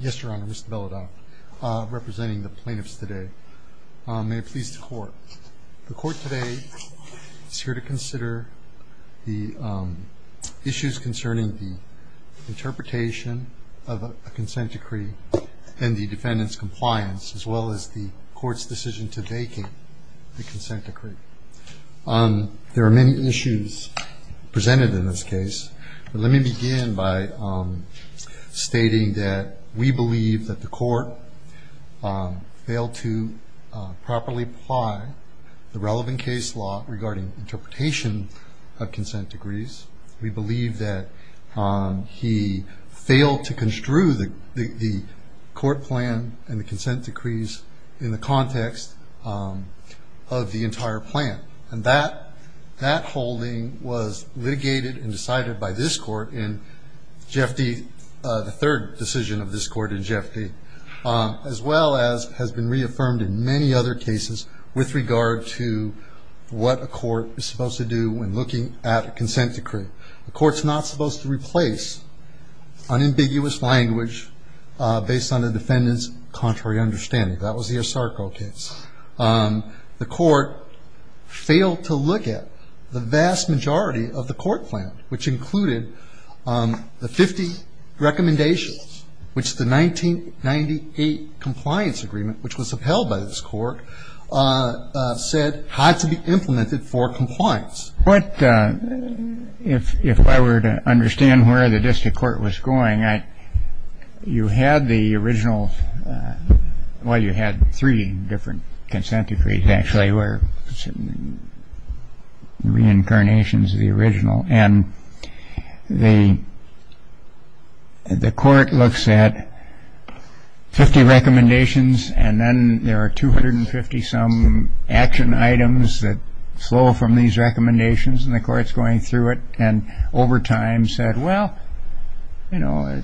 Yes, Your Honor, Mr. Beledock, representing the plaintiffs today. May it please the Court. The Court today is here to consider the issues concerning the interpretation of a consent decree and the defendant's compliance, as well as the Court's decision to vacate the consent decree. There are many issues presented in this case. Let me begin by stating that we believe that the Court failed to properly apply the relevant case law regarding interpretation of consent decrees. We believe that he failed to construe the court plan and the consent decrees in the context of the entire plan. And that holding was litigated and decided by this Court in J.F.D., the third decision of this Court in J.F.D., as well as has been reaffirmed in many other cases with regard to what a court is supposed to do when looking at a consent decree. The Court's not supposed to replace unambiguous language based on the defendant's contrary understanding. That was the Asarco case. The Court failed to look at the vast majority of the court plan, which included the 50 recommendations, which the 1998 compliance agreement, which was upheld by this Court, said had to be implemented for compliance. But if I were to understand where the district court was going, you had the original – well, you had three different consent decrees, actually, were reincarnations of the original. And the court looks at 50 recommendations, and then there are 250-some action items that flow from these recommendations. And the court's going through it and, over time, said, well, you know,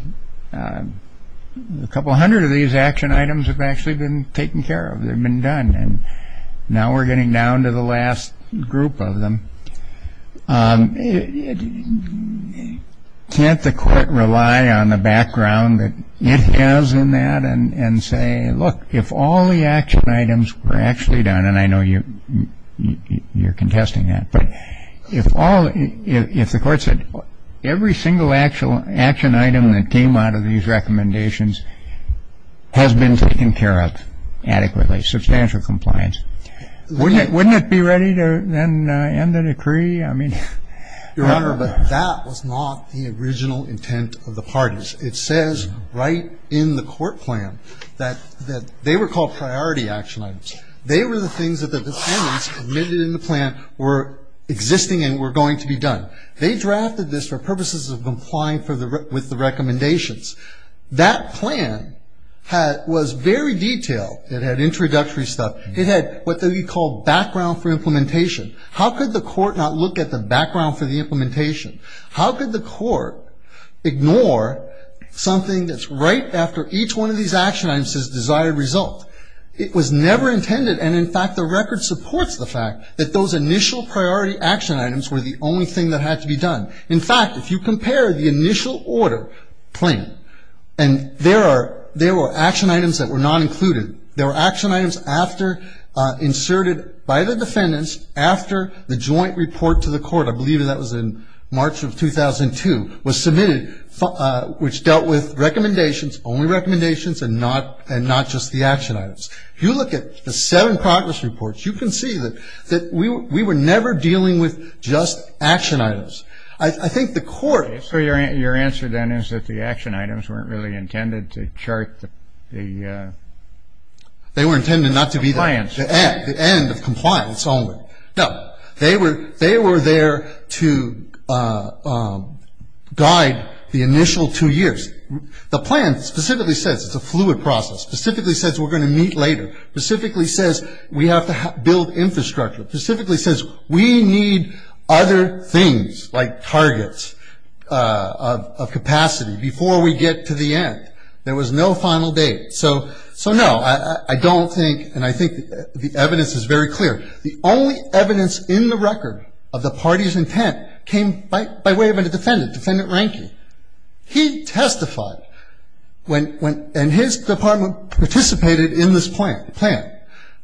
a couple hundred of these action items have actually been taken care of. They've been done. And now we're getting down to the last group of them. Can't the court rely on the background that it has in that and say, look, if all the action items were actually done – and I know you're contesting that – but if all – if the court said every single action item that came out of these recommendations has been taken care of adequately, substantial compliance, wouldn't it be ready to then end the decree? I mean – Your Honor, but that was not the original intent of the parties. It says right in the court plan that they were called priority action items. They were the things that the defendants admitted in the plan were existing and were going to be done. They drafted this for purposes of complying with the recommendations. That plan was very detailed. It had introductory stuff. It had what they would call background for implementation. How could the court not look at the background for the implementation? How could the court ignore something that's right after each one of these action items has desired result? It was never intended, and in fact, the record supports the fact that those initial priority action items were the only thing that had to be done. In fact, if you compare the initial order plan, and there are – there were action items that were not included. There were action items after – inserted by the defendants after the joint report to the court. I believe that was in March of 2002, was submitted, which dealt with recommendations, only recommendations, and not – and not just the action items. If you look at the seven progress reports, you can see that we were never dealing with just action items. I think the court – that the action items weren't really intended to chart the – They were intended not to be the – Compliance. The end of compliance only. No. They were there to guide the initial two years. The plan specifically says it's a fluid process, specifically says we're going to meet later, specifically says we have to build infrastructure, specifically says we need other things like targets of capacity before we get to the end. There was no final date. So, no, I don't think, and I think the evidence is very clear, the only evidence in the record of the party's intent came by way of a defendant, Defendant Rankey. He testified when – and his department participated in this plan,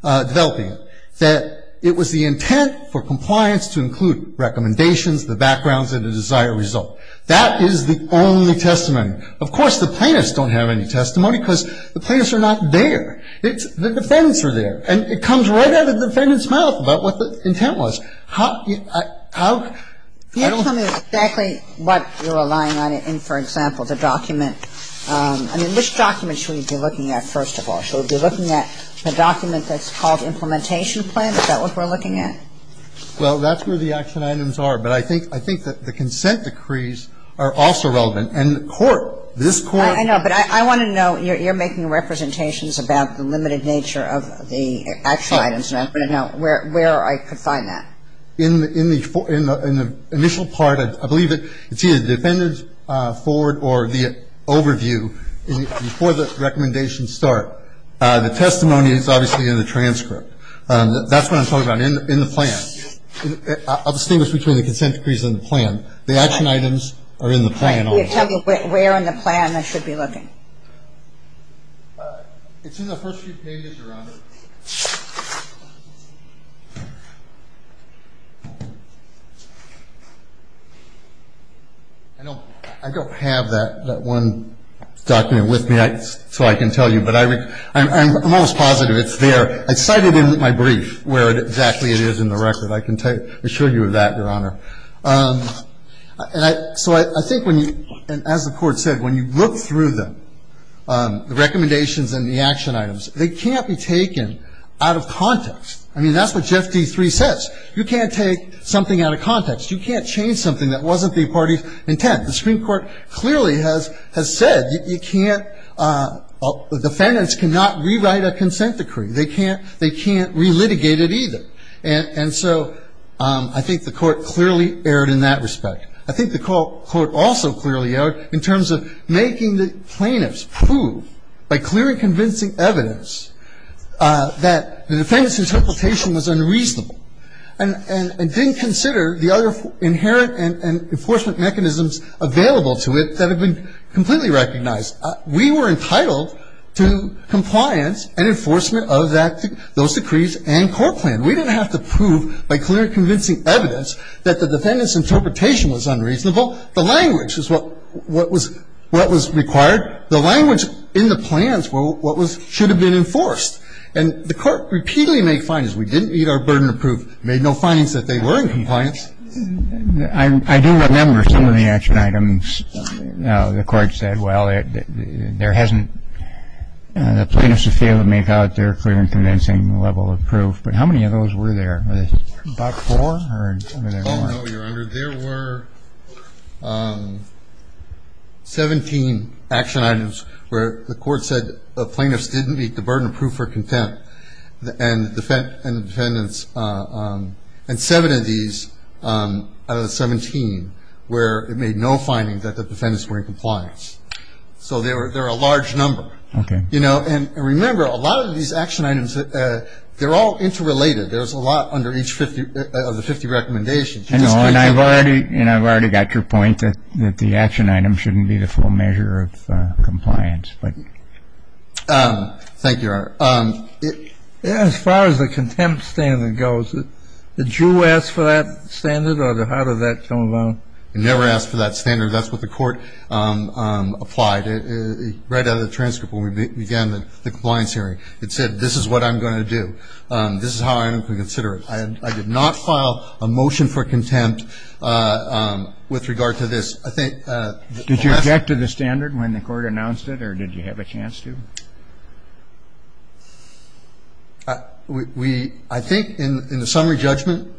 developing it, that it was the intent for compliance to include recommendations, the backgrounds, and the desired result. That is the only testimony. Of course, the plaintiffs don't have any testimony because the plaintiffs are not there. It's – the defendants are there. And it comes right out of the defendant's mouth about what the intent was. How – how – I don't – You're telling me exactly what you're relying on in, for example, the document. I mean, which document should we be looking at, first of all? We should be looking at the document that's called Implementation Plan. Is that what we're looking at? Well, that's where the action items are. But I think – I think that the consent decrees are also relevant. And the court, this court – I know. But I want to know, you're making representations about the limited nature of the action items, and I want to know where I could find that. In the – in the initial part, I believe it's either the defendant's forward or the overview before the recommendations start. The testimony is obviously in the transcript. That's what I'm talking about, in the plan. I'll distinguish between the consent decrees and the plan. The action items are in the plan also. Right. Tell me where in the plan I should be looking. It's in the first few pages, Your Honor. I don't have that one document with me so I can tell you, but I – I'm almost positive it's there. I cited it in my brief where exactly it is in the record. I can assure you of that, Your Honor. And I – so I think when you – and as the court said, when you look through them, the recommendations and the action items, they can't be taken out of context. I mean, that's what Jeff D. 3 says. You can't take something out of context. You can't change something that wasn't the party's intent. The Supreme Court clearly has – has said you can't – defendants cannot rewrite a consent decree. They can't – they can't relitigate it either. And so I think the court clearly erred in that respect. I think the court also clearly erred in terms of making the plaintiffs prove, by clear and convincing evidence, that the defendant's interpretation was unreasonable and didn't consider the other inherent enforcement mechanisms available to it that have been completely recognized. We were entitled to compliance and enforcement of that – those decrees and court plan. We didn't have to prove by clear and convincing evidence that the defendant's interpretation was unreasonable. The language is what was – what was required. The language in the plans were what was – should have been enforced. And the court repeatedly made findings. We didn't need our burden of proof. We made no findings that they were in compliance. I do remember some of the action items. The court said, well, there hasn't – the plaintiffs have failed to make out their clear and convincing level of proof. But how many of those were there? About four? Oh, no, Your Honor. There were 17 action items where the court said the plaintiffs didn't meet the burden of proof or contempt. And the defendants – and seven of these out of the 17 where it made no findings that the defendants were in compliance. So they're a large number. Okay. You know, and remember, a lot of these action items, they're all interrelated. There's a lot under each of the 50 recommendations. No, and I've already – and I've already got your point that the action item shouldn't be the full measure of compliance. Thank you, Your Honor. As far as the contempt standard goes, did you ask for that standard or how did that come about? We never asked for that standard. That's what the court applied right out of the transcript when we began the compliance hearing. It said this is what I'm going to do. This is how I'm going to consider it. I did not file a motion for contempt with regard to this. Did you object to the standard when the court announced it or did you have a chance to? We – I think in the summary judgment,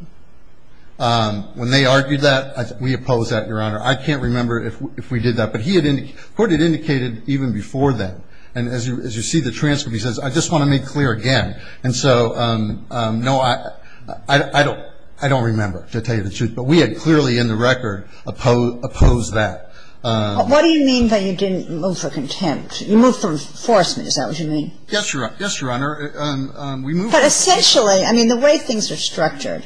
when they argued that, we opposed that, Your Honor. I can't remember if we did that. But he had – the court had indicated even before that. And as you see the transcript, he says, I just want to make clear again. And so, no, I don't – I don't remember, to tell you the truth. But we had clearly in the record opposed that. What do you mean by you didn't move for contempt? You moved for enforcement. Is that what you mean? Yes, Your Honor. Yes, Your Honor. We moved for enforcement. But essentially, I mean, the way things are structured,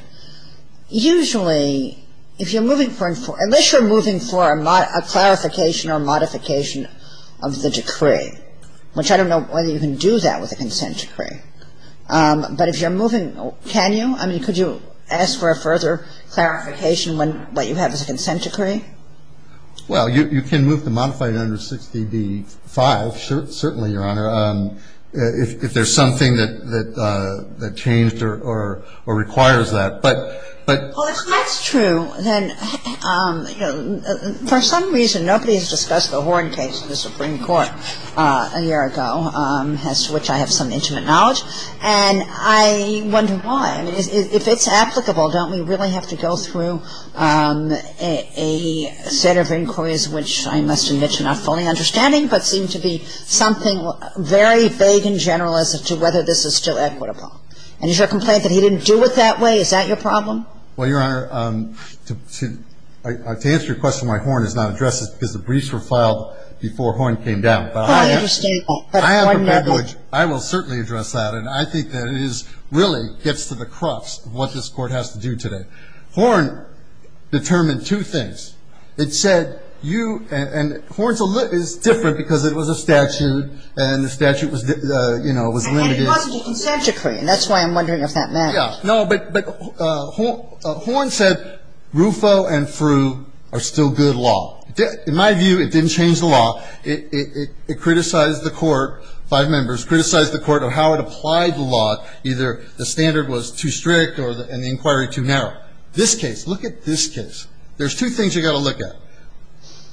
usually if you're moving for – unless you're moving for a clarification or modification of the decree, which I don't know whether you can do that with a consent decree. But if you're moving – can you? I mean, could you ask for a further clarification when what you have is a consent decree? Well, you can move the modified under 60d-5, certainly, Your Honor, if there's something that changed or requires that. But – but – Well, if that's true, then, you know, for some reason, nobody has discussed the Horn case in the Supreme Court a year ago, as to which I have some intimate knowledge. And I wonder why. I mean, if it's applicable, don't we really have to go through a set of inquiries, which I must admit you're not fully understanding, but seem to be something very vague and general as to whether this is still equitable? And is your complaint that he didn't do it that way? Is that your problem? Well, Your Honor, to answer your question why Horn is not addressed is because the briefs were filed before Horn came down. And I understand that, but I have a prejudice. I will certainly address that. And I think that is – really gets to the crux of what this Court has to do today. Horn determined two things. It said you – and Horn's a lit – is different because it was a statute and the statute was, you know, was limited. It had a possible consent decree, and that's why I'm wondering if that matters. Yeah. No, but Horn said Rufo and Frew are still good law. In my view, it didn't change the law. It criticized the Court – five members – criticized the Court on how it applied the law. Either the standard was too strict or – and the inquiry too narrow. This case – look at this case. There's two things you've got to look at.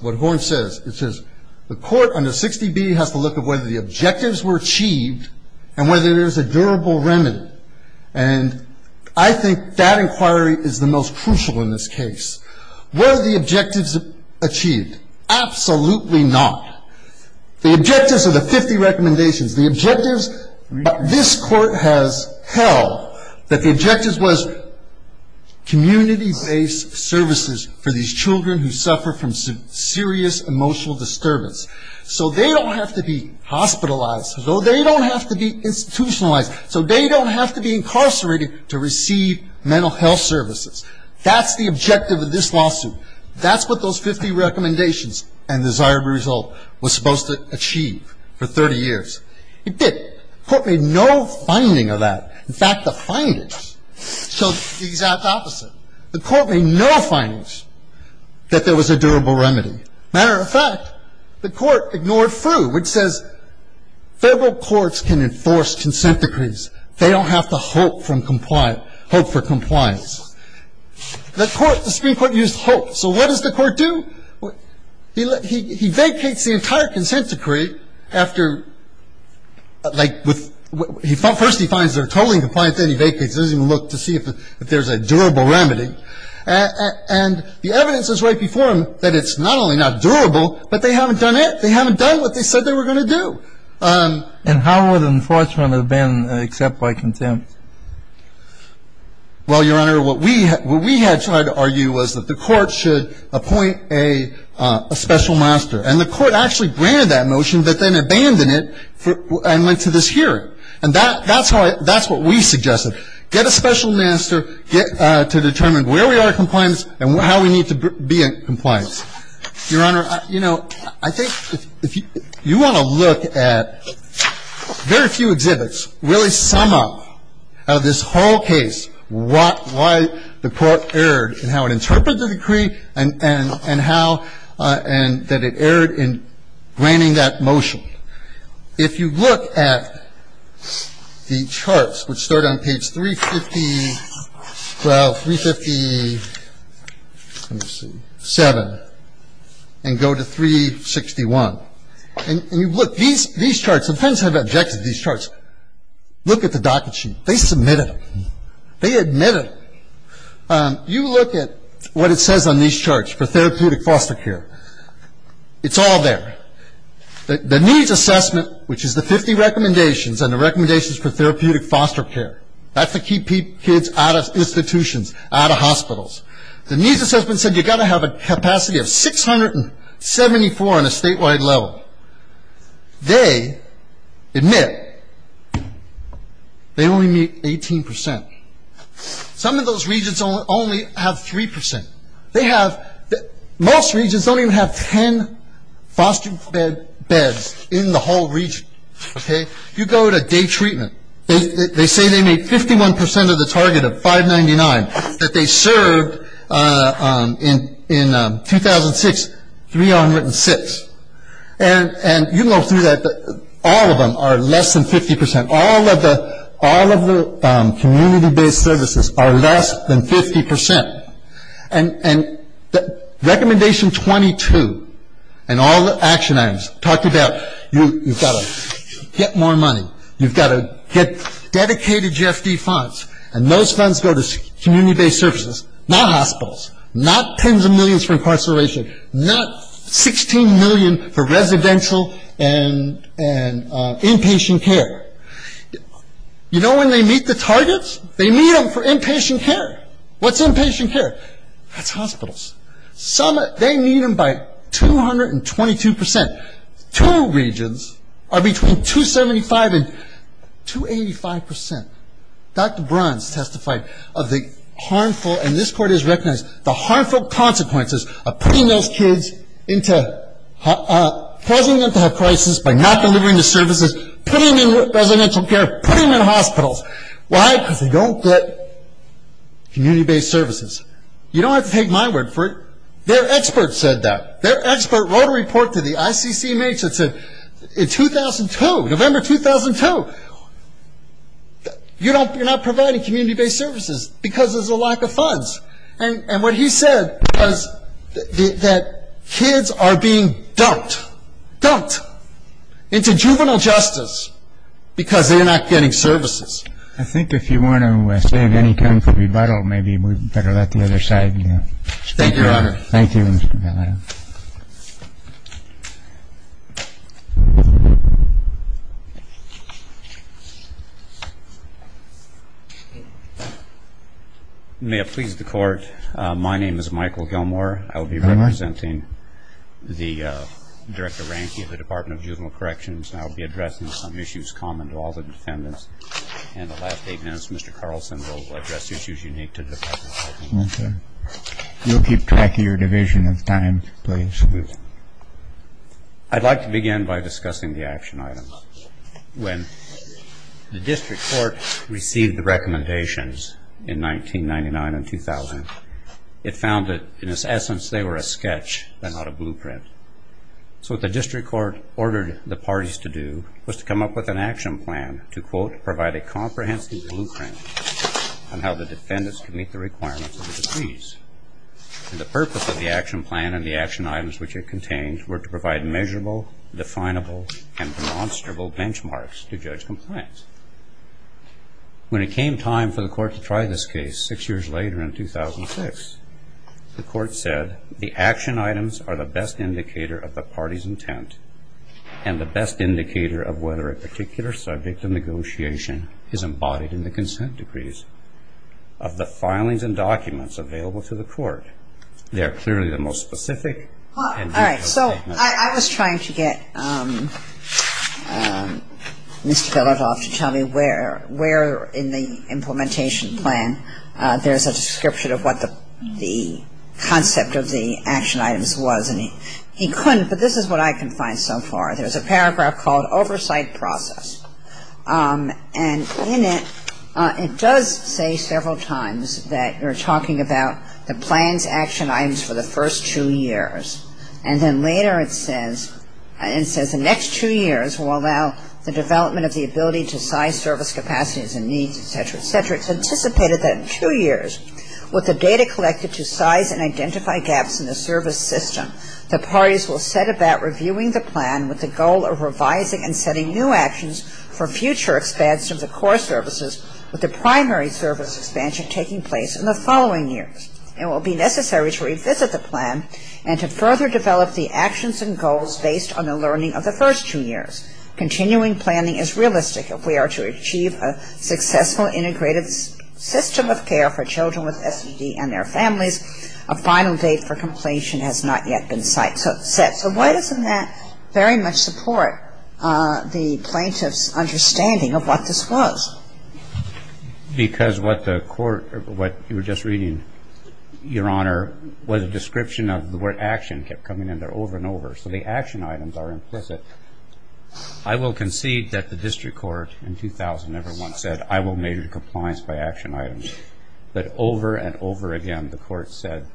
What Horn says, it says the Court under 60B has to look at whether the objectives were achieved and whether there's a durable remedy. And I think that inquiry is the most crucial in this case. Were the objectives achieved? Absolutely not. The objectives are the 50 recommendations. The objectives – this Court has held that the objectives was community-based services for these children who suffer from serious emotional disturbance. So they don't have to be hospitalized. So they don't have to be institutionalized. So they don't have to be incarcerated to receive mental health services. That's the objective of this lawsuit. That's what those 50 recommendations and desirable result was supposed to achieve for 30 years. It didn't. The Court made no finding of that. In fact, the findings showed the exact opposite. The Court made no findings that there was a durable remedy. Matter of fact, the Court ignored Frew, which says Federal courts can enforce consent decrees. They don't have to hope for compliance. The Supreme Court used hope. So what does the Court do? He vacates the entire consent decree after – like, first he finds they're totally compliant. Then he vacates it. He doesn't even look to see if there's a durable remedy. And the evidence is right before him that it's not only not durable, but they haven't done it. They haven't done what they said they were going to do. And how would enforcement have been except by contempt? Well, Your Honor, what we had tried to argue was that the Court should appoint a special master. And the Court actually granted that motion, but then abandoned it and went to this hearing. And that's what we suggested. Get a special master to determine where we are in compliance and how we need to be in compliance. Your Honor, you know, I think if you want to look at very few exhibits really sum up how this whole case, what – why the Court erred and how it interpreted the decree and how – and that it erred in granting that motion. If you look at the charts, which start on page 350 – well, 357, and go to 361, and you look, these charts, the defendants have objected to these charts. Look at the docket sheet. They submitted them. They admitted them. You look at what it says on these charts for therapeutic foster care. It's all there. The needs assessment, which is the 50 recommendations and the recommendations for therapeutic foster care, that's to keep kids out of institutions, out of hospitals. The needs assessment said you've got to have a capacity of 674 on a statewide level. They admit they only meet 18 percent. Some of those regions only have 3 percent. They have – most regions don't even have 10 foster beds in the whole region. Okay? You go to day treatment, they say they meet 51 percent of the target of 599 that they in 2006, 306. And you go through that, all of them are less than 50 percent. All of the community-based services are less than 50 percent. And recommendation 22 and all the action items talk about you've got to get more money. You've got to get dedicated GFD funds. And those funds go to community-based services, not hospitals, not tens of millions for incarceration, not 16 million for residential and inpatient care. You know when they meet the targets? They meet them for inpatient care. What's inpatient care? That's hospitals. Some – they meet them by 222 percent. Two regions are between 275 and 285 percent. Dr. Bruns testified of the harmful – and this court has recognized the harmful consequences of putting those kids into – causing them to have crisis by not delivering the services, putting them in residential care, putting them in hospitals. Why? Because they don't get community-based services. You don't have to take my word for it. Their expert said that. Their expert wrote a report to the ICCMH that said in 2002, November 2002, you're not providing community-based services because there's a lack of funds. And what he said was that kids are being dumped, dumped into juvenile justice because they're not getting services. I think if you want to save any time for rebuttal, maybe we better let the other side speak. Thank you, Your Honor. Thank you, Your Honor. May it please the Court, my name is Michael Gilmore. I will be representing the Director Ranky of the Department of Juvenile Corrections, and I will be addressing some issues common to all the defendants. In the last eight minutes, Mr. Carlson will address issues unique to the Department of Juvenile Corrections. You'll keep track of your division of time, please. I'd like to begin by discussing the action items. When the district court received the recommendations in 1999 and 2000, it found that in its essence they were a sketch and not a blueprint. So what the district court ordered the parties to do was to come up with an action plan to, quote, provide a comprehensive blueprint on how the defendants could meet the requirements of the decrees. And the purpose of the action plan and the action items which it contained were to provide measurable, definable, and demonstrable benchmarks to judge compliance. When it came time for the court to try this case six years later in 2006, the court said the action items are the best indicator of the party's intent and the best indicator of whether a particular subject of negotiation is embodied in the consent decrees of the filings and documents available to the court. They are clearly the most specific and difficult to identify. All right. So I was trying to get Mr. Belotov to tell me where in the implementation plan there's a description of what the concept of the action items was, and he couldn't, but this is what I can find so far. There's a paragraph called Oversight Process. And in it, it does say several times that you're talking about the plans, action items for the first two years. And then later it says the next two years will allow the development of the ability to size service capacities and needs, et cetera, et cetera. With the data collected to size and identify gaps in the service system, the parties will set about reviewing the plan with the goal of revising and setting new actions for future expansion of the core services with the primary service expansion taking place in the following years. It will be necessary to revisit the plan and to further develop the actions and goals based on the learning of the first two years. Continuing planning is realistic if we are to achieve a successful, integrated system of care for children with SED and their families. A final date for completion has not yet been set. So why doesn't that very much support the plaintiff's understanding of what this was? Because what the court or what you were just reading, Your Honor, was a description of where action kept coming in there over and over. So the action items are implicit. I will concede that the district court in 2000 never once said, I will measure compliance by action items. But over and over again the court said,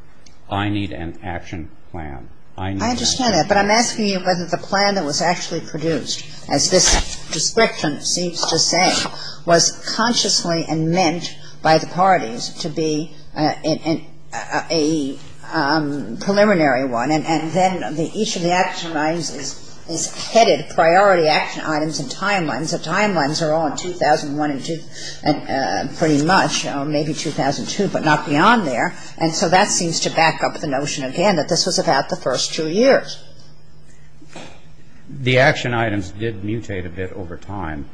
I need an action plan. I need an action plan. I understand that, but I'm asking you whether the plan that was actually produced, as this description seems to say, was consciously and meant by the parties to be a preliminary one. And then each of the action items is headed priority action items and timelines. The timelines are all in 2001 and pretty much maybe 2002, but not beyond there. And so that seems to back up the notion again that this was about the first two years. The action items did mutate a bit over time.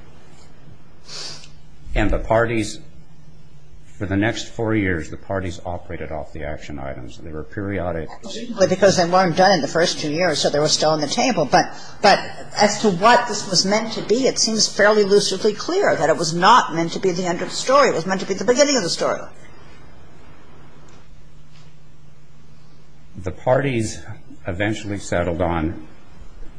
And the parties, for the next four years, the parties operated off the action items. They were periodic. But because they weren't done in the first two years, so they were still on the table. But as to what this was meant to be, it seems fairly lucidly clear that it was not meant to be the end of the story. It was meant to be the beginning of the story. The parties eventually settled on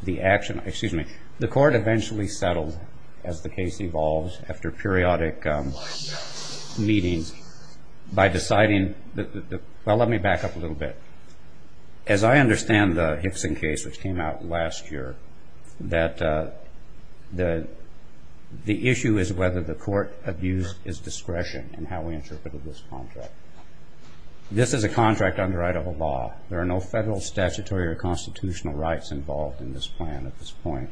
the action item. Excuse me. The court eventually settled, as the case evolves after periodic meetings, by deciding that the – well, let me back up a little bit. As I understand the Hickson case, which came out last year, that the issue is whether the court abused its discretion in how we interpreted this contract. This is a contract under right of a law. There are no federal, statutory, or constitutional rights involved in this plan at this point.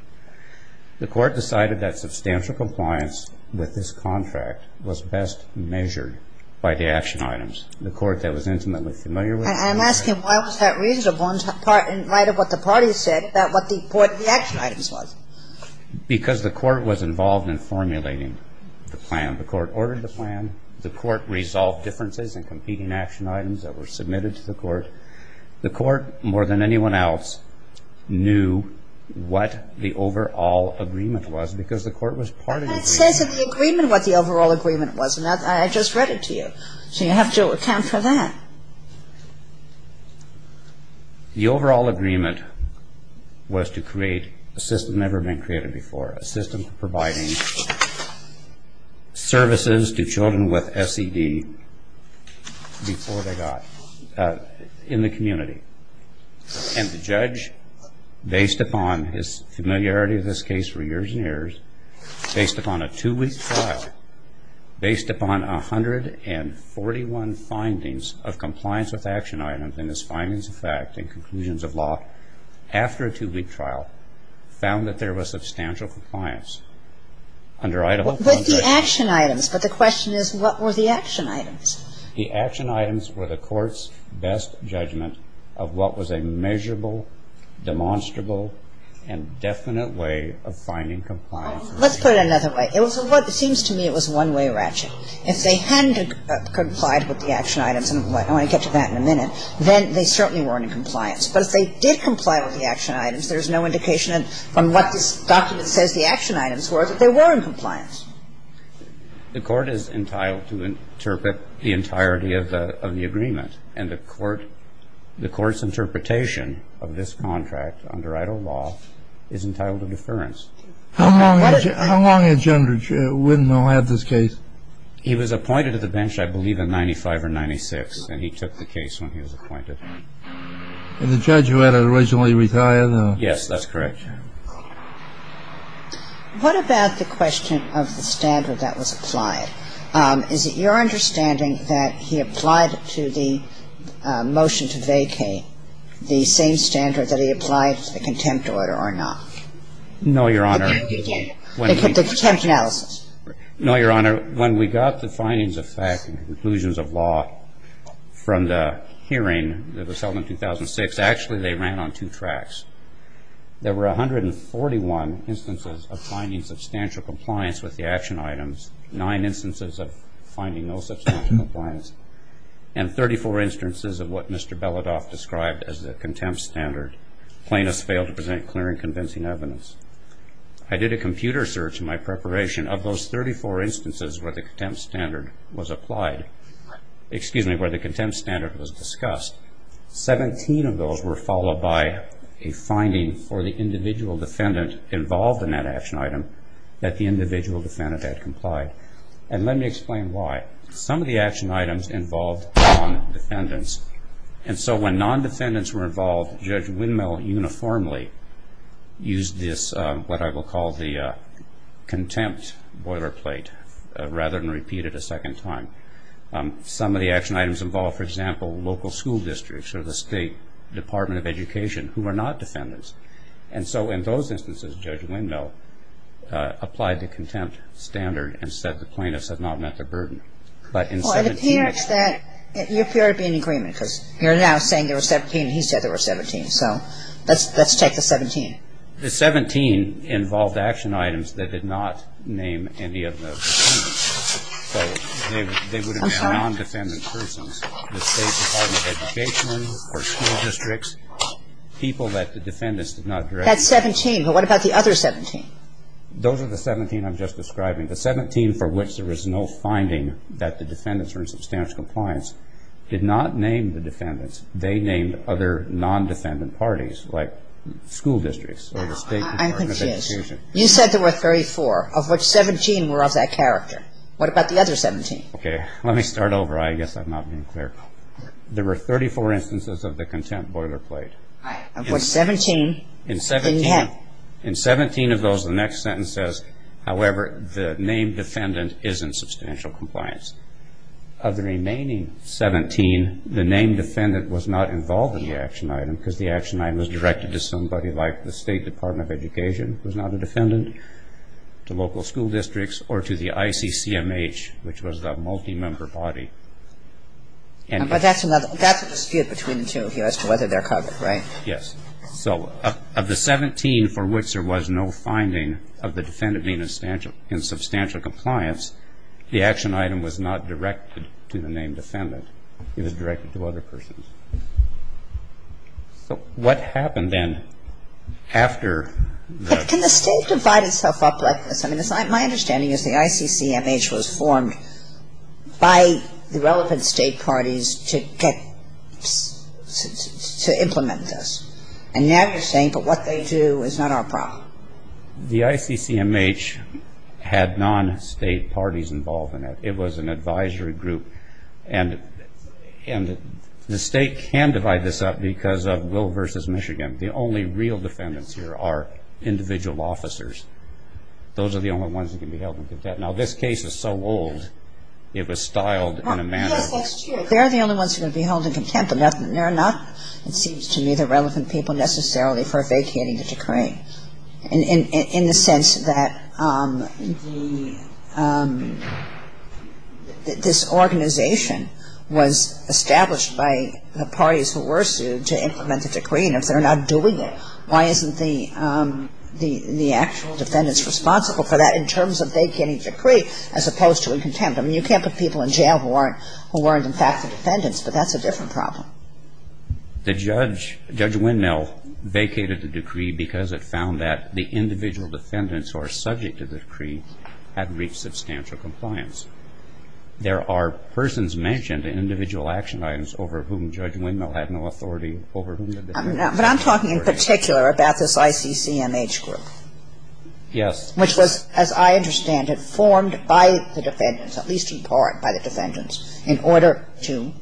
The court decided that substantial compliance with this contract was best measured by the action items. The court that was intimately familiar with it. I'm asking why was that reasonable in light of what the parties said about what the action items was? Because the court was involved in formulating the plan. The court ordered the plan. The court resolved differences in competing action items that were submitted to the court. The court, more than anyone else, knew what the overall agreement was because the court was part of the agreement. But that says in the agreement what the overall agreement was, and I just read it to you. So you have to account for that. The overall agreement was to create a system never been created before, a system providing services to children with SED before they got – in the community. And the judge, based upon his familiarity with this case for years and years, based upon a two-week trial, based upon 141 findings of compliance with action items in this findings of fact and conclusions of law after a two-week trial, found that there was substantial compliance under Idaho contract. With the action items, but the question is what were the action items? The action items were the court's best judgment of what was a measurable, demonstrable, and definite way of finding compliance. Let's put it another way. It was a one – it seems to me it was a one-way ratchet. If they hadn't complied with the action items, and I want to get to that in a minute, then they certainly weren't in compliance. But if they did comply with the action items, there's no indication from what this document says the action items were that they were in compliance. The court is entitled to interpret the entirety of the agreement. And the court – the court's interpretation of this contract under Idaho law is entitled to deference. How long had – how long had General Widnall had this case? He was appointed to the bench, I believe, in 95 or 96, and he took the case when he was appointed. And the judge who had it originally retired? Yes, that's correct. What about the question of the standard that was applied? Is it your understanding that he applied to the motion to vacate the same standard that he applied to the contempt order or not? No, Your Honor. The contempt analysis. No, Your Honor. When we got the findings of fact and conclusions of law from the hearing that was held in 2006, actually they ran on two tracks. There were 141 instances of finding substantial compliance with the action items, nine instances of finding no substantial compliance, and 34 instances of what Mr. Beledoff described as the contempt standard. Plaintiffs failed to present clear and convincing evidence. I did a computer search in my preparation of those 34 instances where the contempt standard was applied – excuse me, where the contempt standard was discussed. Seventeen of those were followed by a finding for the individual defendant involved in that action item that the individual defendant had complied. And let me explain why. Some of the action items involved non-defendants. And so when non-defendants were involved, Judge Windmill uniformly used this, what I will call the contempt boilerplate, rather than repeat it a second time. Some of the action items involved, for example, local school districts or the State Department of Education who are not defendants. And so in those instances, Judge Windmill applied the contempt standard and said the plaintiffs had not met the burden. But in 17 – Well, it appears that – you appear to be in agreement, because you're now saying there were 17 and he said there were 17. So let's take the 17. The 17 involved action items that did not name any of the defendants. They would have been non-defendant persons, the State Department of Education or school districts, people that the defendants did not direct. That's 17. But what about the other 17? Those are the 17 I'm just describing. The 17 for which there was no finding that the defendants were in substantial compliance did not name the defendants. They named other non-defendant parties, like school districts or the State Department of Education. I'm confused. You said there were 34, of which 17 were of that character. What about the other 17? Okay. Let me start over. I guess I'm not being clear. There were 34 instances of the contempt boilerplate. Of which 17 didn't name. In 17 of those, the next sentence says, however, the named defendant is in substantial compliance. Of the remaining 17, the named defendant was not involved in the action item, because the action item was directed to somebody like the State Department of Education, who is not a defendant, to local school districts, or to the ICCMH, which was the multi-member body. But that's another. That's a dispute between the two as to whether they're covered, right? Yes. So of the 17 for which there was no finding of the defendant being in substantial compliance, the action item was not directed to the named defendant. It was directed to other persons. So what happened then after that? Can the State divide itself up like this? I mean, my understanding is the ICCMH was formed by the relevant State parties to get to implement this. And now you're saying, but what they do is not our problem. The ICCMH had non-State parties involved in it. It was an advisory group. And the State can divide this up because of Will v. Michigan. The only real defendants here are individual officers. Those are the only ones who can be held in contempt. Now, this case is so old, it was styled in a manner that they're the only ones who are going to be held in contempt. They're not, it seems to me, the relevant people necessarily for vacating the decree, in the sense that this organization was established by the parties who were sued to implement the decree, and if they're not doing it, why isn't the actual defendants responsible for that in terms of vacating the decree as opposed to in contempt? I mean, you can't put people in jail who weren't in fact the defendants, but that's a different problem. The judge, Judge Windmill, vacated the decree because it found that the individual defendants who are subject to the decree hadn't reached substantial compliance. There are persons mentioned in individual action items over whom Judge Windmill had no authority over. But I'm talking in particular about this ICCMH group. Yes. Which was, as I understand it, formed by the defendants, at least in part by the defendants, in order to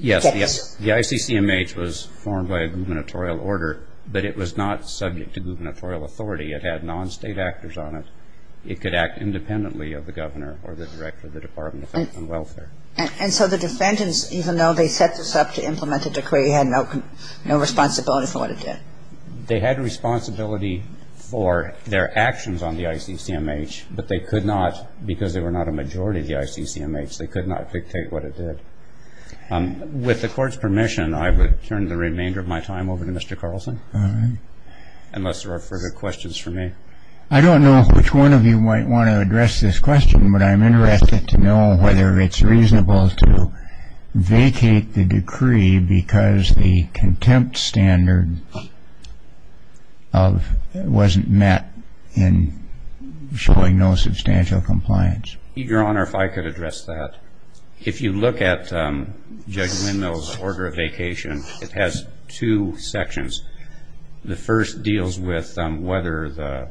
get Yes, the ICCMH was formed by a gubernatorial order, but it was not subject to gubernatorial authority. It had non-state actors on it. It could act independently of the governor or the director of the Department of Health and Welfare. And so the defendants, even though they set this up to implement the decree, had no responsibility for what it did? They had responsibility for their actions on the ICCMH, but they could not, because they were not a majority of the ICCMH, they could not dictate what it did. With the Court's permission, I would turn the remainder of my time over to Mr. Carlson. All right. Unless there are further questions for me. I don't know which one of you might want to address this question, but I'm interested to know whether it's reasonable to vacate the decree because the contempt standard wasn't met in showing no substantial compliance. Your Honor, if I could address that. If you look at Judge Windmill's order of vacation, it has two sections. The first deals with whether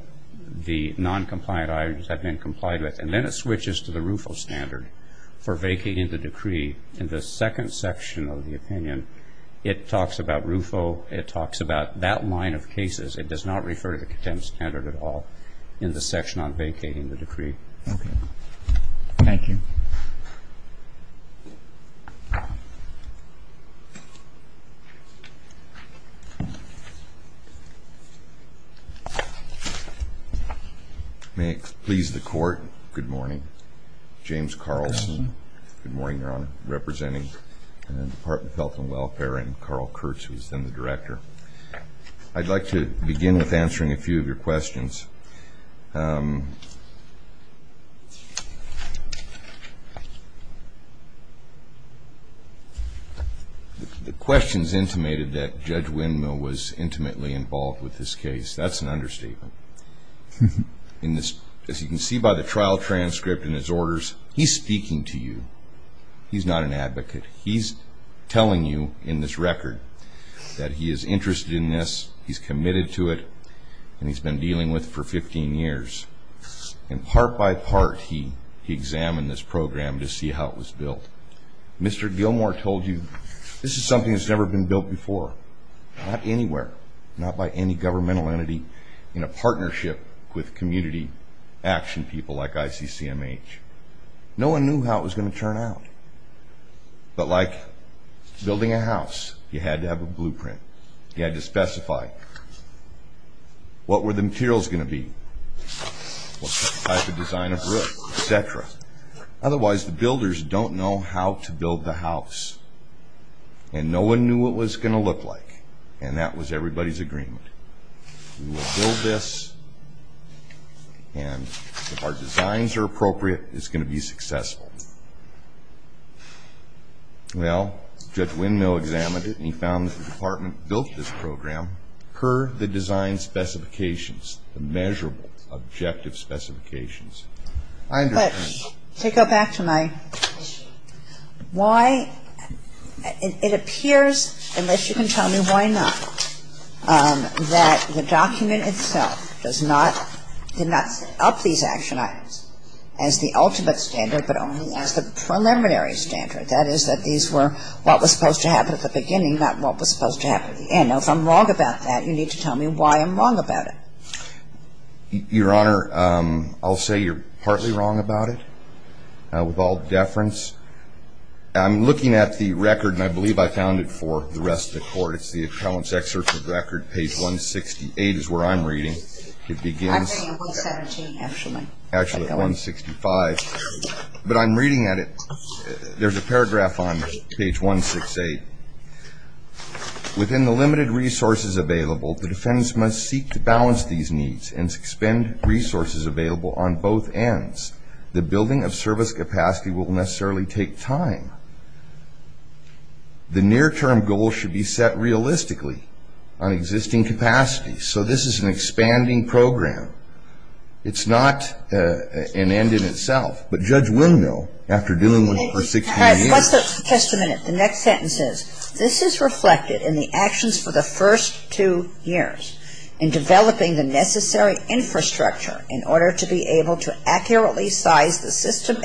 the noncompliant items have been complied with, and then it switches to the RUFO standard for vacating the decree. In the second section of the opinion, it talks about RUFO. It talks about that line of cases. It does not refer to the contempt standard at all in the section on vacating the decree. Okay. Thank you. May it please the Court, good morning. James Carlson. Good morning, Your Honor. Representing the Department of Health and Welfare and Carl Kurtz, who is then the Director. I'd like to begin with answering a few of your questions. The questions intimated that Judge Windmill was intimately involved with this case, that's an understatement. As you can see by the trial transcript and his orders, he's speaking to you. He's not an advocate. He's telling you in this record that he is interested in this, he's committed to it, and he's been dealing with it for 15 years. And part by part, he examined this program to see how it was built. Mr. Gilmour told you this is something that's never been built before, not anywhere, not by any governmental entity in a partnership with community action people like ICCMH. No one knew how it was going to turn out. But like building a house, you had to have a blueprint. You had to specify what were the materials going to be, what type of design of roof, et cetera. Otherwise, the builders don't know how to build the house, and no one knew what it was going to look like, and that was everybody's agreement. We will build this, and if our designs are appropriate, it's going to be successful. Well, Judge Windmill examined it, and he found that the department built this program per the design specifications, the measurable objective specifications. I understand that. But to go back to my why, it appears, unless you can tell me why not, that the document itself does not, did not set up these action items as the ultimate standard but only as the preliminary standard. That is, that these were what was supposed to happen at the beginning, not what was supposed to happen at the end. Now, if I'm wrong about that, you need to tell me why I'm wrong about it. Your Honor, I'll say you're partly wrong about it, with all deference. I'm looking at the record, and I believe I found it for the rest of the Court. It's the Appellant's Excerpt of the Record, page 168 is where I'm reading. It begins at 165. But I'm reading at it. There's a paragraph on page 168. Within the limited resources available, the defendants must seek to balance these needs and expend resources available on both ends. The building of service capacity will necessarily take time. The near-term goal should be set realistically on existing capacity. So this is an expanding program. It's not an end in itself. But Judge will know after doing one for 16 years. Just a minute. The next sentence says, this is reflected in the actions for the first two years in developing the necessary infrastructure in order to be able to accurately size the system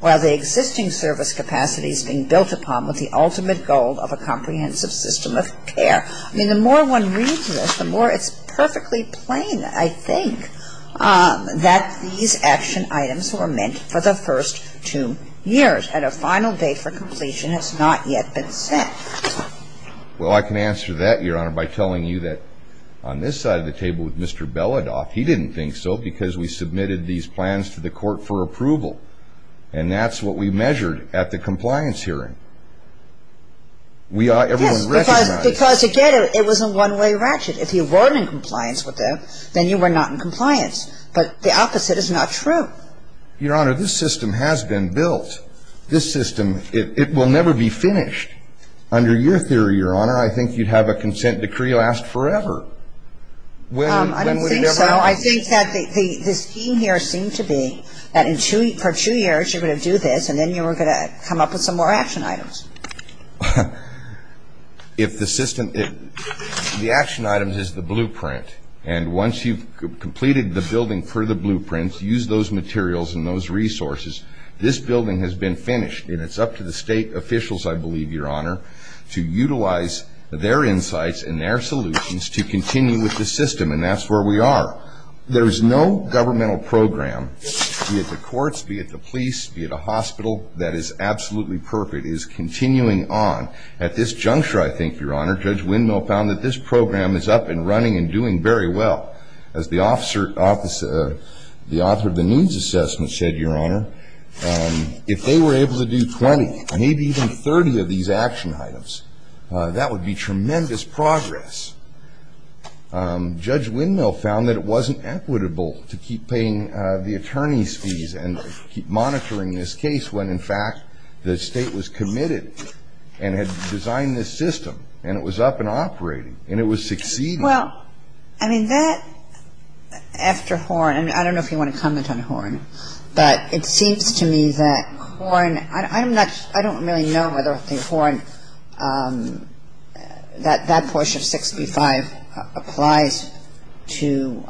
while the existing service capacity is being built upon with the ultimate goal of a comprehensive system of care. I mean, the more one reads this, the more it's perfectly plain, I think, that these action items were meant for the first two years. And a final date for completion has not yet been set. Well, I can answer that, Your Honor, by telling you that on this side of the table with Mr. Beledoff, he didn't think so because we submitted these plans to the court for approval. And that's what we measured at the compliance hearing. Yes, because, again, it was a one-way ratchet. If you were in compliance with them, then you were not in compliance. But the opposite is not true. Your Honor, this system has been built. This system, it will never be finished. Under your theory, Your Honor, I think you'd have a consent decree last forever. I don't think so. I think that the scheme here seemed to be that for two years you were going to do this, and then you were going to come up with some more action items. If the system ñ the action item is the blueprint. And once you've completed the building for the blueprints, used those materials and those resources, this building has been finished. And it's up to the state officials, I believe, Your Honor, to utilize their insights and their solutions to continue with the system. And that's where we are. There is no governmental program, be it the courts, be it the police, be it a hospital, that is absolutely perfect. It is continuing on. At this juncture, I think, Your Honor, Judge Windmill found that this program is up and running and doing very well. As the author of the needs assessment said, Your Honor, if they were able to do 20, maybe even 30 of these action items, that would be tremendous progress. Judge Windmill found that it wasn't equitable to keep paying the attorneys' fees and keep monitoring this case when, in fact, the state was committed and had designed this system, and it was up and operating, and it was succeeding. Well, I mean, that, after Horn ñ and I don't know if you want to comment on Horn, but it seems to me that Horn ñ I'm not ñ I don't really know whether Horn, that portion of 6b-5 applies to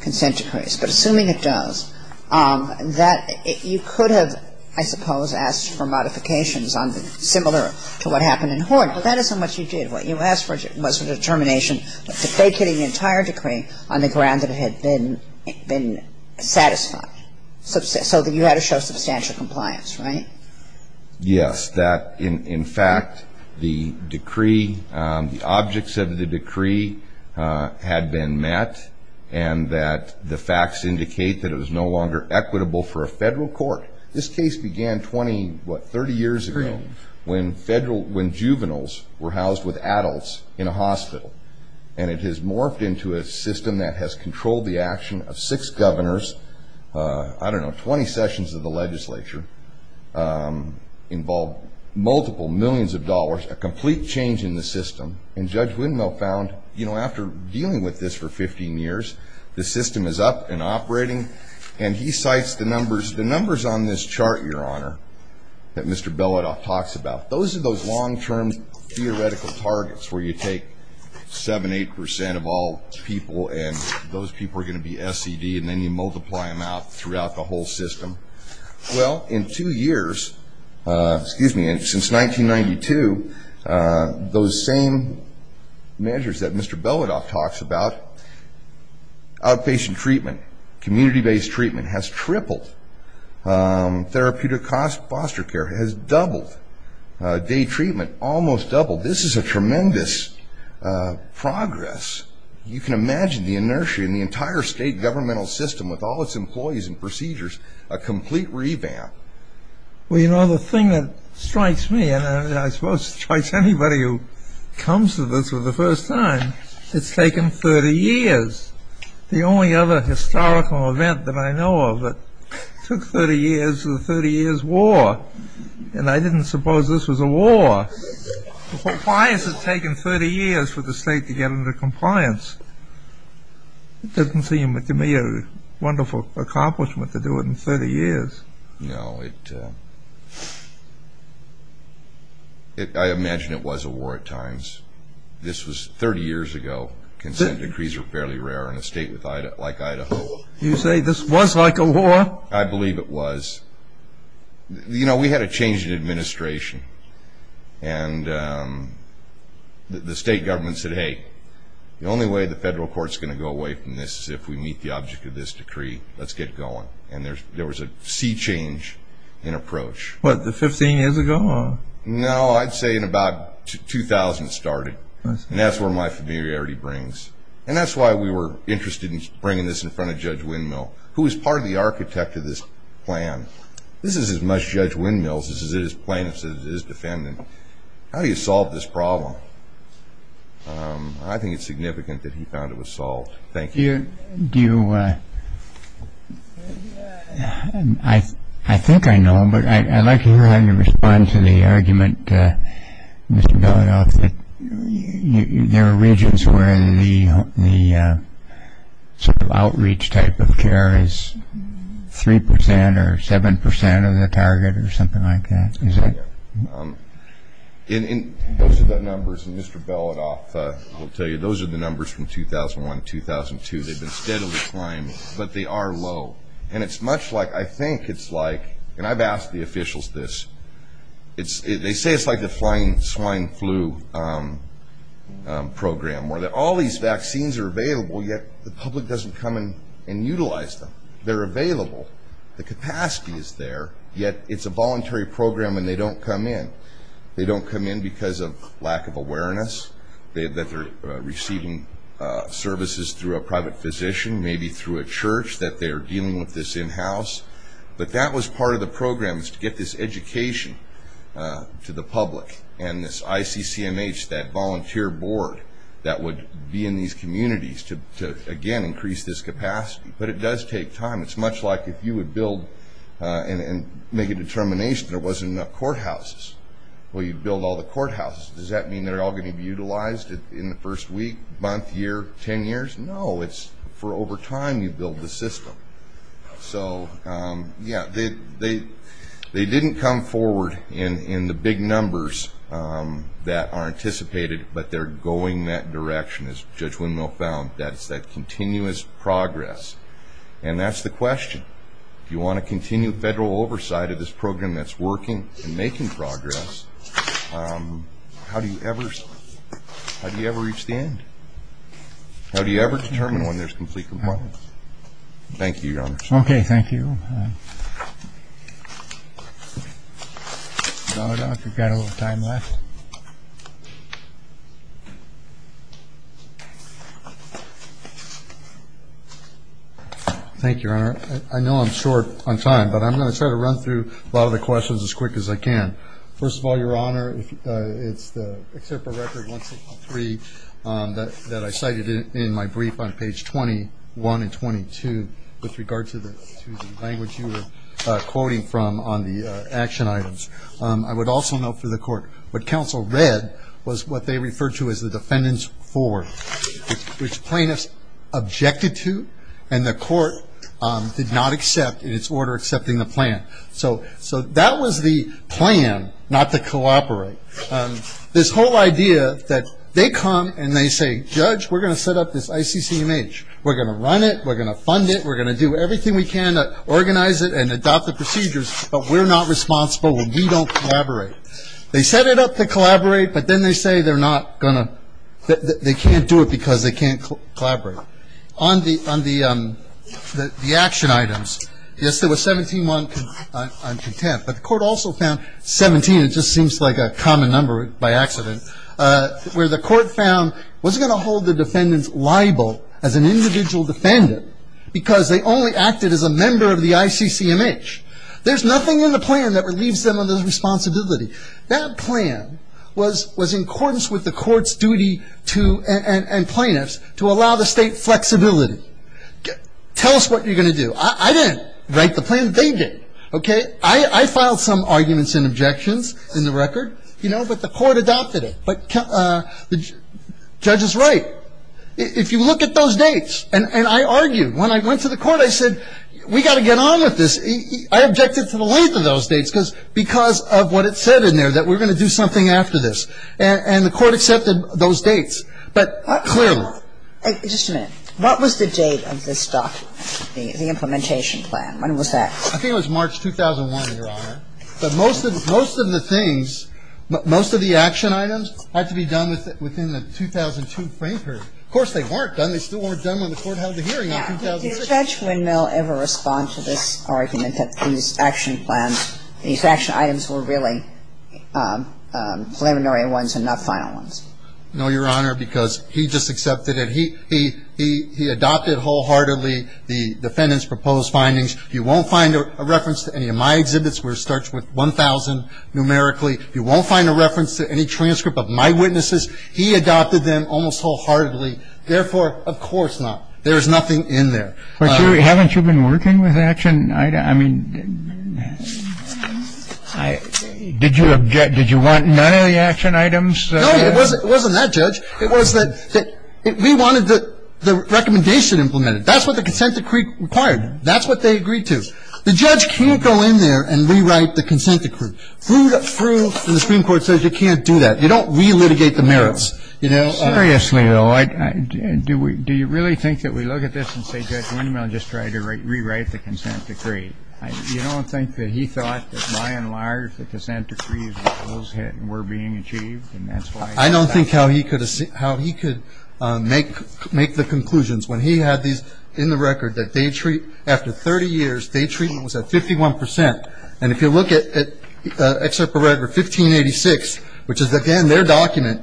consent decrees. But assuming it does, that you could have, I suppose, asked for modifications similar to what happened in Horn. But that isn't what you did. What you asked for was a determination of vacating the entire decree on the ground that it had been satisfied. So that you had to show substantial compliance, right? Yes. That, in fact, the decree, the objects of the decree had been met, and that the facts indicate that it was no longer equitable for a federal court. This case began 20, what, 30 years ago, when juveniles were housed with adults in a hospital. And it has morphed into a system that has controlled the action of six governors, I don't know, 20 sessions of the legislature, involved multiple millions of dollars, a complete change in the system. And Judge Windmill found, you know, after dealing with this for 15 years, the system is up and operating. And he cites the numbers, the numbers on this chart, Your Honor, that Mr. Beladoff talks about. Those are those long-term theoretical targets where you take 7%, 8% of all people, and those people are going to be SED, and then you multiply them out throughout the whole system. Well, in two years, excuse me, since 1992, those same measures that Mr. Beladoff talks about, outpatient treatment, community-based treatment, has tripled. Therapeutic foster care has doubled. Day treatment almost doubled. This is a tremendous progress. You can imagine the inertia in the entire state governmental system, with all its employees and procedures, a complete revamp. Well, you know, the thing that strikes me, and I suppose strikes anybody who comes to this for the first time, it's taken 30 years. The only other historical event that I know of that took 30 years is the 30 Years' War. And I didn't suppose this was a war. Why has it taken 30 years for the state to get into compliance? It doesn't seem to me a wonderful accomplishment to do it in 30 years. No, it, I imagine it was a war at times. This was 30 years ago. Consent decrees were fairly rare in a state like Idaho. You say this was like a war? I believe it was. You know, we had a change in administration, and the state government said, hey, the only way the federal court's going to go away from this is if we meet the object of this decree. Let's get going. And there was a sea change in approach. What, 15 years ago? No, I'd say in about 2000 it started. And that's where my familiarity brings. And that's why we were interested in bringing this in front of Judge Windmill, who was part of the architect of this plan. This is as much Judge Windmill's as it is plaintiff's as it is defendant. How do you solve this problem? I think it's significant that he found it was solved. Thank you. Do you, I think I know, but I'd like to hear how you respond to the argument, Mr. Belidoff, that there are regions where the outreach type of care is 3% or 7% of the target or something like that. Those are the numbers, and Mr. Belidoff will tell you, those are the numbers from 2001 to 2002. They've been steadily climbing, but they are low. And it's much like, I think it's like, and I've asked the officials this, they say it's like the flying swine flu program where all these vaccines are available, yet the public doesn't come and utilize them. They're available. The capacity is there. Yet it's a voluntary program, and they don't come in. They don't come in because of lack of awareness, that they're receiving services through a private physician, maybe through a church, that they're dealing with this in-house. But that was part of the program was to get this education to the public, and this ICCMH, that volunteer board that would be in these communities to, again, increase this capacity. But it does take time. It's much like if you would build and make a determination there wasn't enough courthouses, well, you'd build all the courthouses. Does that mean they're all going to be utilized in the first week, month, year, ten years? No, it's for over time you build the system. So, yeah, they didn't come forward in the big numbers that are anticipated, but they're going that direction, as Judge Windmill found, that it's that continuous progress. And that's the question. If you want to continue federal oversight of this program that's working and making progress, how do you ever reach the end? How do you ever determine when there's complete compliance? Thank you, Your Honor. Okay, thank you. I don't know if we've got a little time left. Thank you, Your Honor. I know I'm short on time, but I'm going to try to run through a lot of the questions as quick as I can. First of all, Your Honor, it's the Excerpt from Record 163 that I cited in my brief on page 21 and 22 with regard to the language you were quoting from on the action items. I would also note for the Court what counsel read was what they referred to as the defendant's forward, which plaintiffs objected to and the Court did not accept in its order accepting the plan. So that was the plan not to cooperate. This whole idea that they come and they say, Judge, we're going to set up this ICCMH. We're going to run it. We're going to fund it. We're going to do everything we can to organize it and adopt the procedures, but we're not responsible. We don't collaborate. They set it up to collaborate, but then they say they're not going to they can't do it because they can't collaborate. On the action items, yes, there was 17-1 on contempt, but the Court also found 17, it just seems like a common number by accident, where the Court found it wasn't going to hold the defendants liable as an individual defendant because they only acted as a member of the ICCMH. There's nothing in the plan that relieves them of their responsibility. That plan was in accordance with the Court's duty to and plaintiffs to allow the State flexibility. Tell us what you're going to do. I didn't write the plan. They did. Okay. I filed some arguments and objections in the record, you know, but the Court adopted it. But the judge is right. If you look at those dates, and I argued. When I went to the Court, I said, we've got to get on with this. I objected to the length of those dates because of what it said in there, that we're going to do something after this. And the Court accepted those dates, but clearly. Just a minute. What was the date of this document, the implementation plan? When was that? I think it was March 2001, Your Honor. But most of the things, most of the action items had to be done within the 2002 frame period. Of course, they weren't done. They still weren't done when the Court held the hearing in 2006. Did Judge Windmill ever respond to this argument that these action plans, these action items were really preliminary ones and not final ones? No, Your Honor, because he just accepted it. He adopted wholeheartedly the defendant's proposed findings. You won't find a reference to any of my exhibits where it starts with 1,000 numerically. You won't find a reference to any transcript of my witnesses. He adopted them almost wholeheartedly. Therefore, of course not. There is nothing in there. But haven't you been working with action? I mean, did you object? Did you want none of the action items? No, it wasn't that, Judge. It was that we wanted the recommendation implemented. That's what the consent decree required. That's what they agreed to. The judge can't go in there and rewrite the consent decree. Through the Supreme Court says you can't do that. You don't re-litigate the merits. Seriously, though, do you really think that we look at this and say Judge Windmill just tried to rewrite the consent decree? You don't think that he thought that by and large the consent decree's goals were being achieved? I don't think how he could make the conclusions when he had these in the record that after 30 years, day treatment was at 51 percent. And if you look at Excerpt of Red for 1586, which is, again, their document,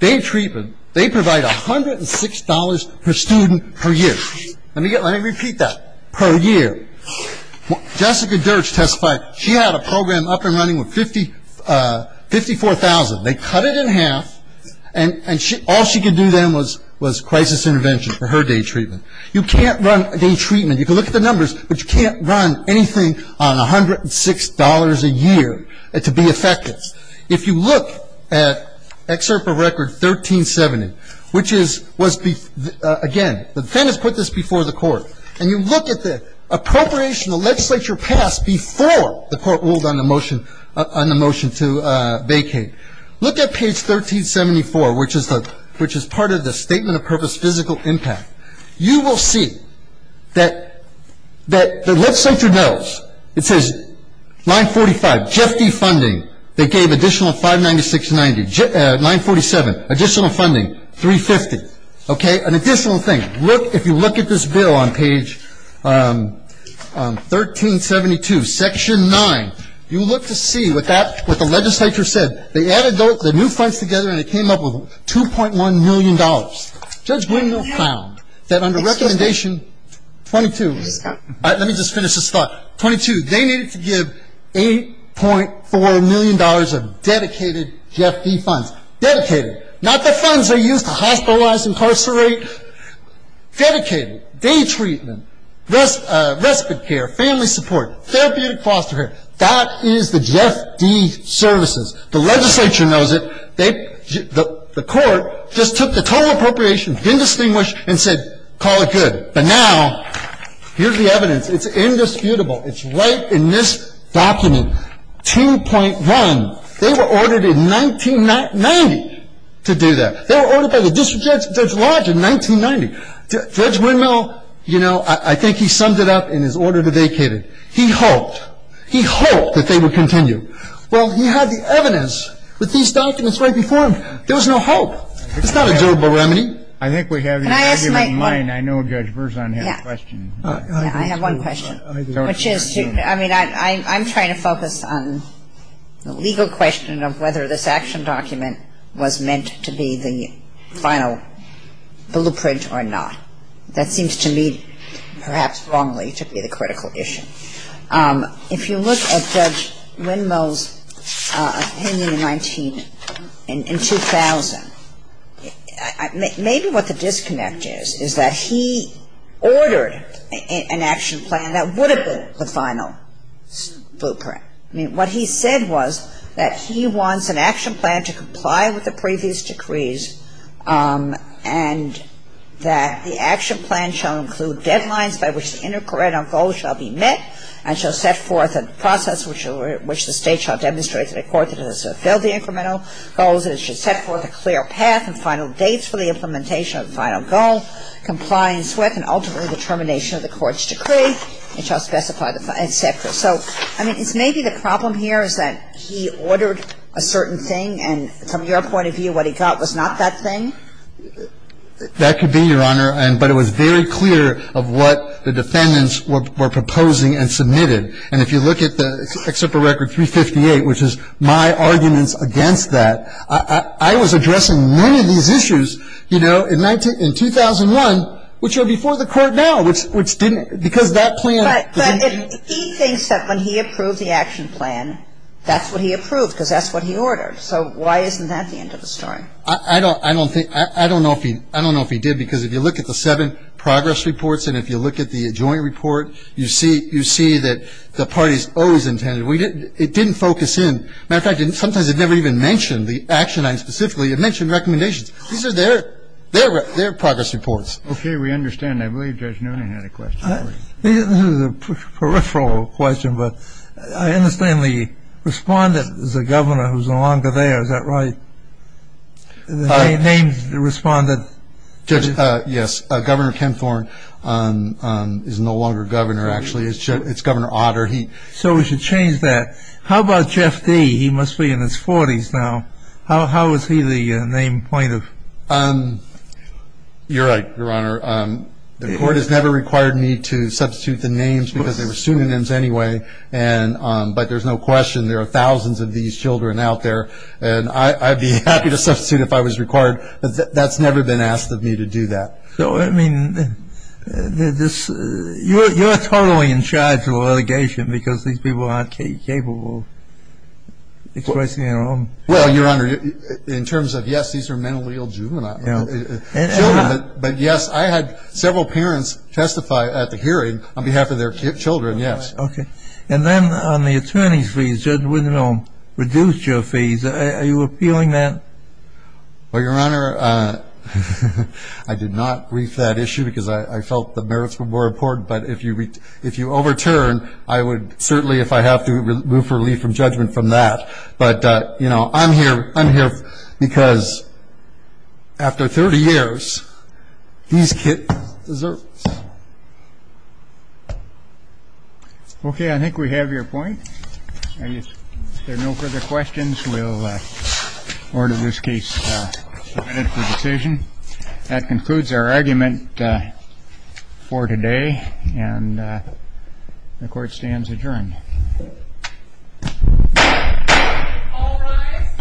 day treatment, they provide $106 per student per year. Let me repeat that, per year. Jessica Dirch testified she had a program up and running with 54,000. They cut it in half, and all she could do then was crisis intervention for her day treatment. You can't run a day treatment. You can look at the numbers, but you can't run anything on $106 a year to be effective. If you look at Excerpt of Record 1370, which is, again, the defendant's put this before the court, and you look at the appropriation the legislature passed before the court ruled on the motion to vacate. Look at page 1374, which is part of the statement of purpose physical impact. You will see that the legislature knows. It says 945, Jeff D. funding. They gave additional 596.90. 947, additional funding, 350. Okay? An additional thing. If you look at this bill on page 1372, Section 9, you look to see what the legislature said. They added the new funds together, and they came up with $2.1 million. Judge Wendell found that under recommendation 22, let me just finish this thought, 22, they needed to give $8.4 million of dedicated Jeff D. funds. Dedicated. Not the funds they use to hospitalize, incarcerate. Dedicated. Day treatment. Respite care. Family support. Therapeutic foster care. That is the Jeff D. services. The legislature knows it. The court just took the total appropriation, didn't distinguish, and said, call it good. But now, here's the evidence. It's indisputable. It's right in this document. 2.1. They were ordered in 1990 to do that. They were ordered by the district judge, Judge Lodge, in 1990. Judge Wendell, you know, I think he summed it up in his order to vacate it. He hoped. He hoped that they would continue. Well, he had the evidence with these documents right before him. There was no hope. It's not a durable remedy. I think we have you. Can I ask my question? I know Judge Verzon had a question. I have one question, which is, I mean, I'm trying to focus on the legal question of whether this action document was meant to be the final blueprint or not. That seems to me perhaps wrongly to be the critical issue. If you look at Judge Wendell's opinion in 2000, maybe what the disconnect is, is that he ordered an action plan that would have been the final blueprint. I mean, what he said was that he wants an action plan to comply with the previous decrees and that the action plan shall include deadlines by which the intercorrect implementation of the final goal shall be met and shall set forth a process which the State shall demonstrate to the court that it has fulfilled the incremental goals and it should set forth a clear path and final dates for the implementation of the final goal, compliance with and ultimately the termination of the court's decree, and shall specify the final etc. So, I mean, it's maybe the problem here is that he ordered a certain thing and from your point of view what he got was not that thing? That could be, Your Honor. But it was very clear of what the defendants were proposing and submitted. And if you look at the Excerpt of Record 358, which is my arguments against that, I was addressing many of these issues, you know, in 2001, which are before the Court now, which didn't, because that plan. But he thinks that when he approved the action plan, that's what he approved, because that's what he ordered. So why isn't that the end of the story? I don't think, I don't know if he did, because if you look at the seven progress reports and if you look at the joint report, you see that the parties always intended it. It didn't focus in. As a matter of fact, sometimes it never even mentioned the action item specifically. It mentioned recommendations. These are their progress reports. Okay. I'm not sure we understand. I believe Judge Noonan had a question for you. This is a peripheral question, but I understand the respondent is a governor who's no longer there. Is that right? The name respondent. Judge, yes. Governor Ken Thorne is no longer governor, actually. It's Governor Otter. So we should change that. How about Jeff Dee? He must be in his 40s now. How is he the named plaintiff? You're right, Your Honor. The court has never required me to substitute the names because they were pseudonyms anyway, but there's no question there are thousands of these children out there, and I'd be happy to substitute if I was required, but that's never been asked of me to do that. So, I mean, you're totally in charge of the litigation because these people aren't capable of expressing their own. Well, Your Honor, in terms of, yes, these are mentally ill juvenile children, but, yes, I had several parents testify at the hearing on behalf of their children, yes. Okay. And then on the attorney's fees, Judge Wittenbaum reduced your fees. Are you appealing that? Well, Your Honor, I did not brief that issue because I felt the merits were more important, but if you overturn, I would certainly, if I have to, move for relief from judgment from that. But, you know, I'm here because after 30 years, these kids deserve it. Okay. I think we have your point. If there are no further questions, we'll order this case submitted for decision. That concludes our argument for today, and the court stands adjourned. All rise.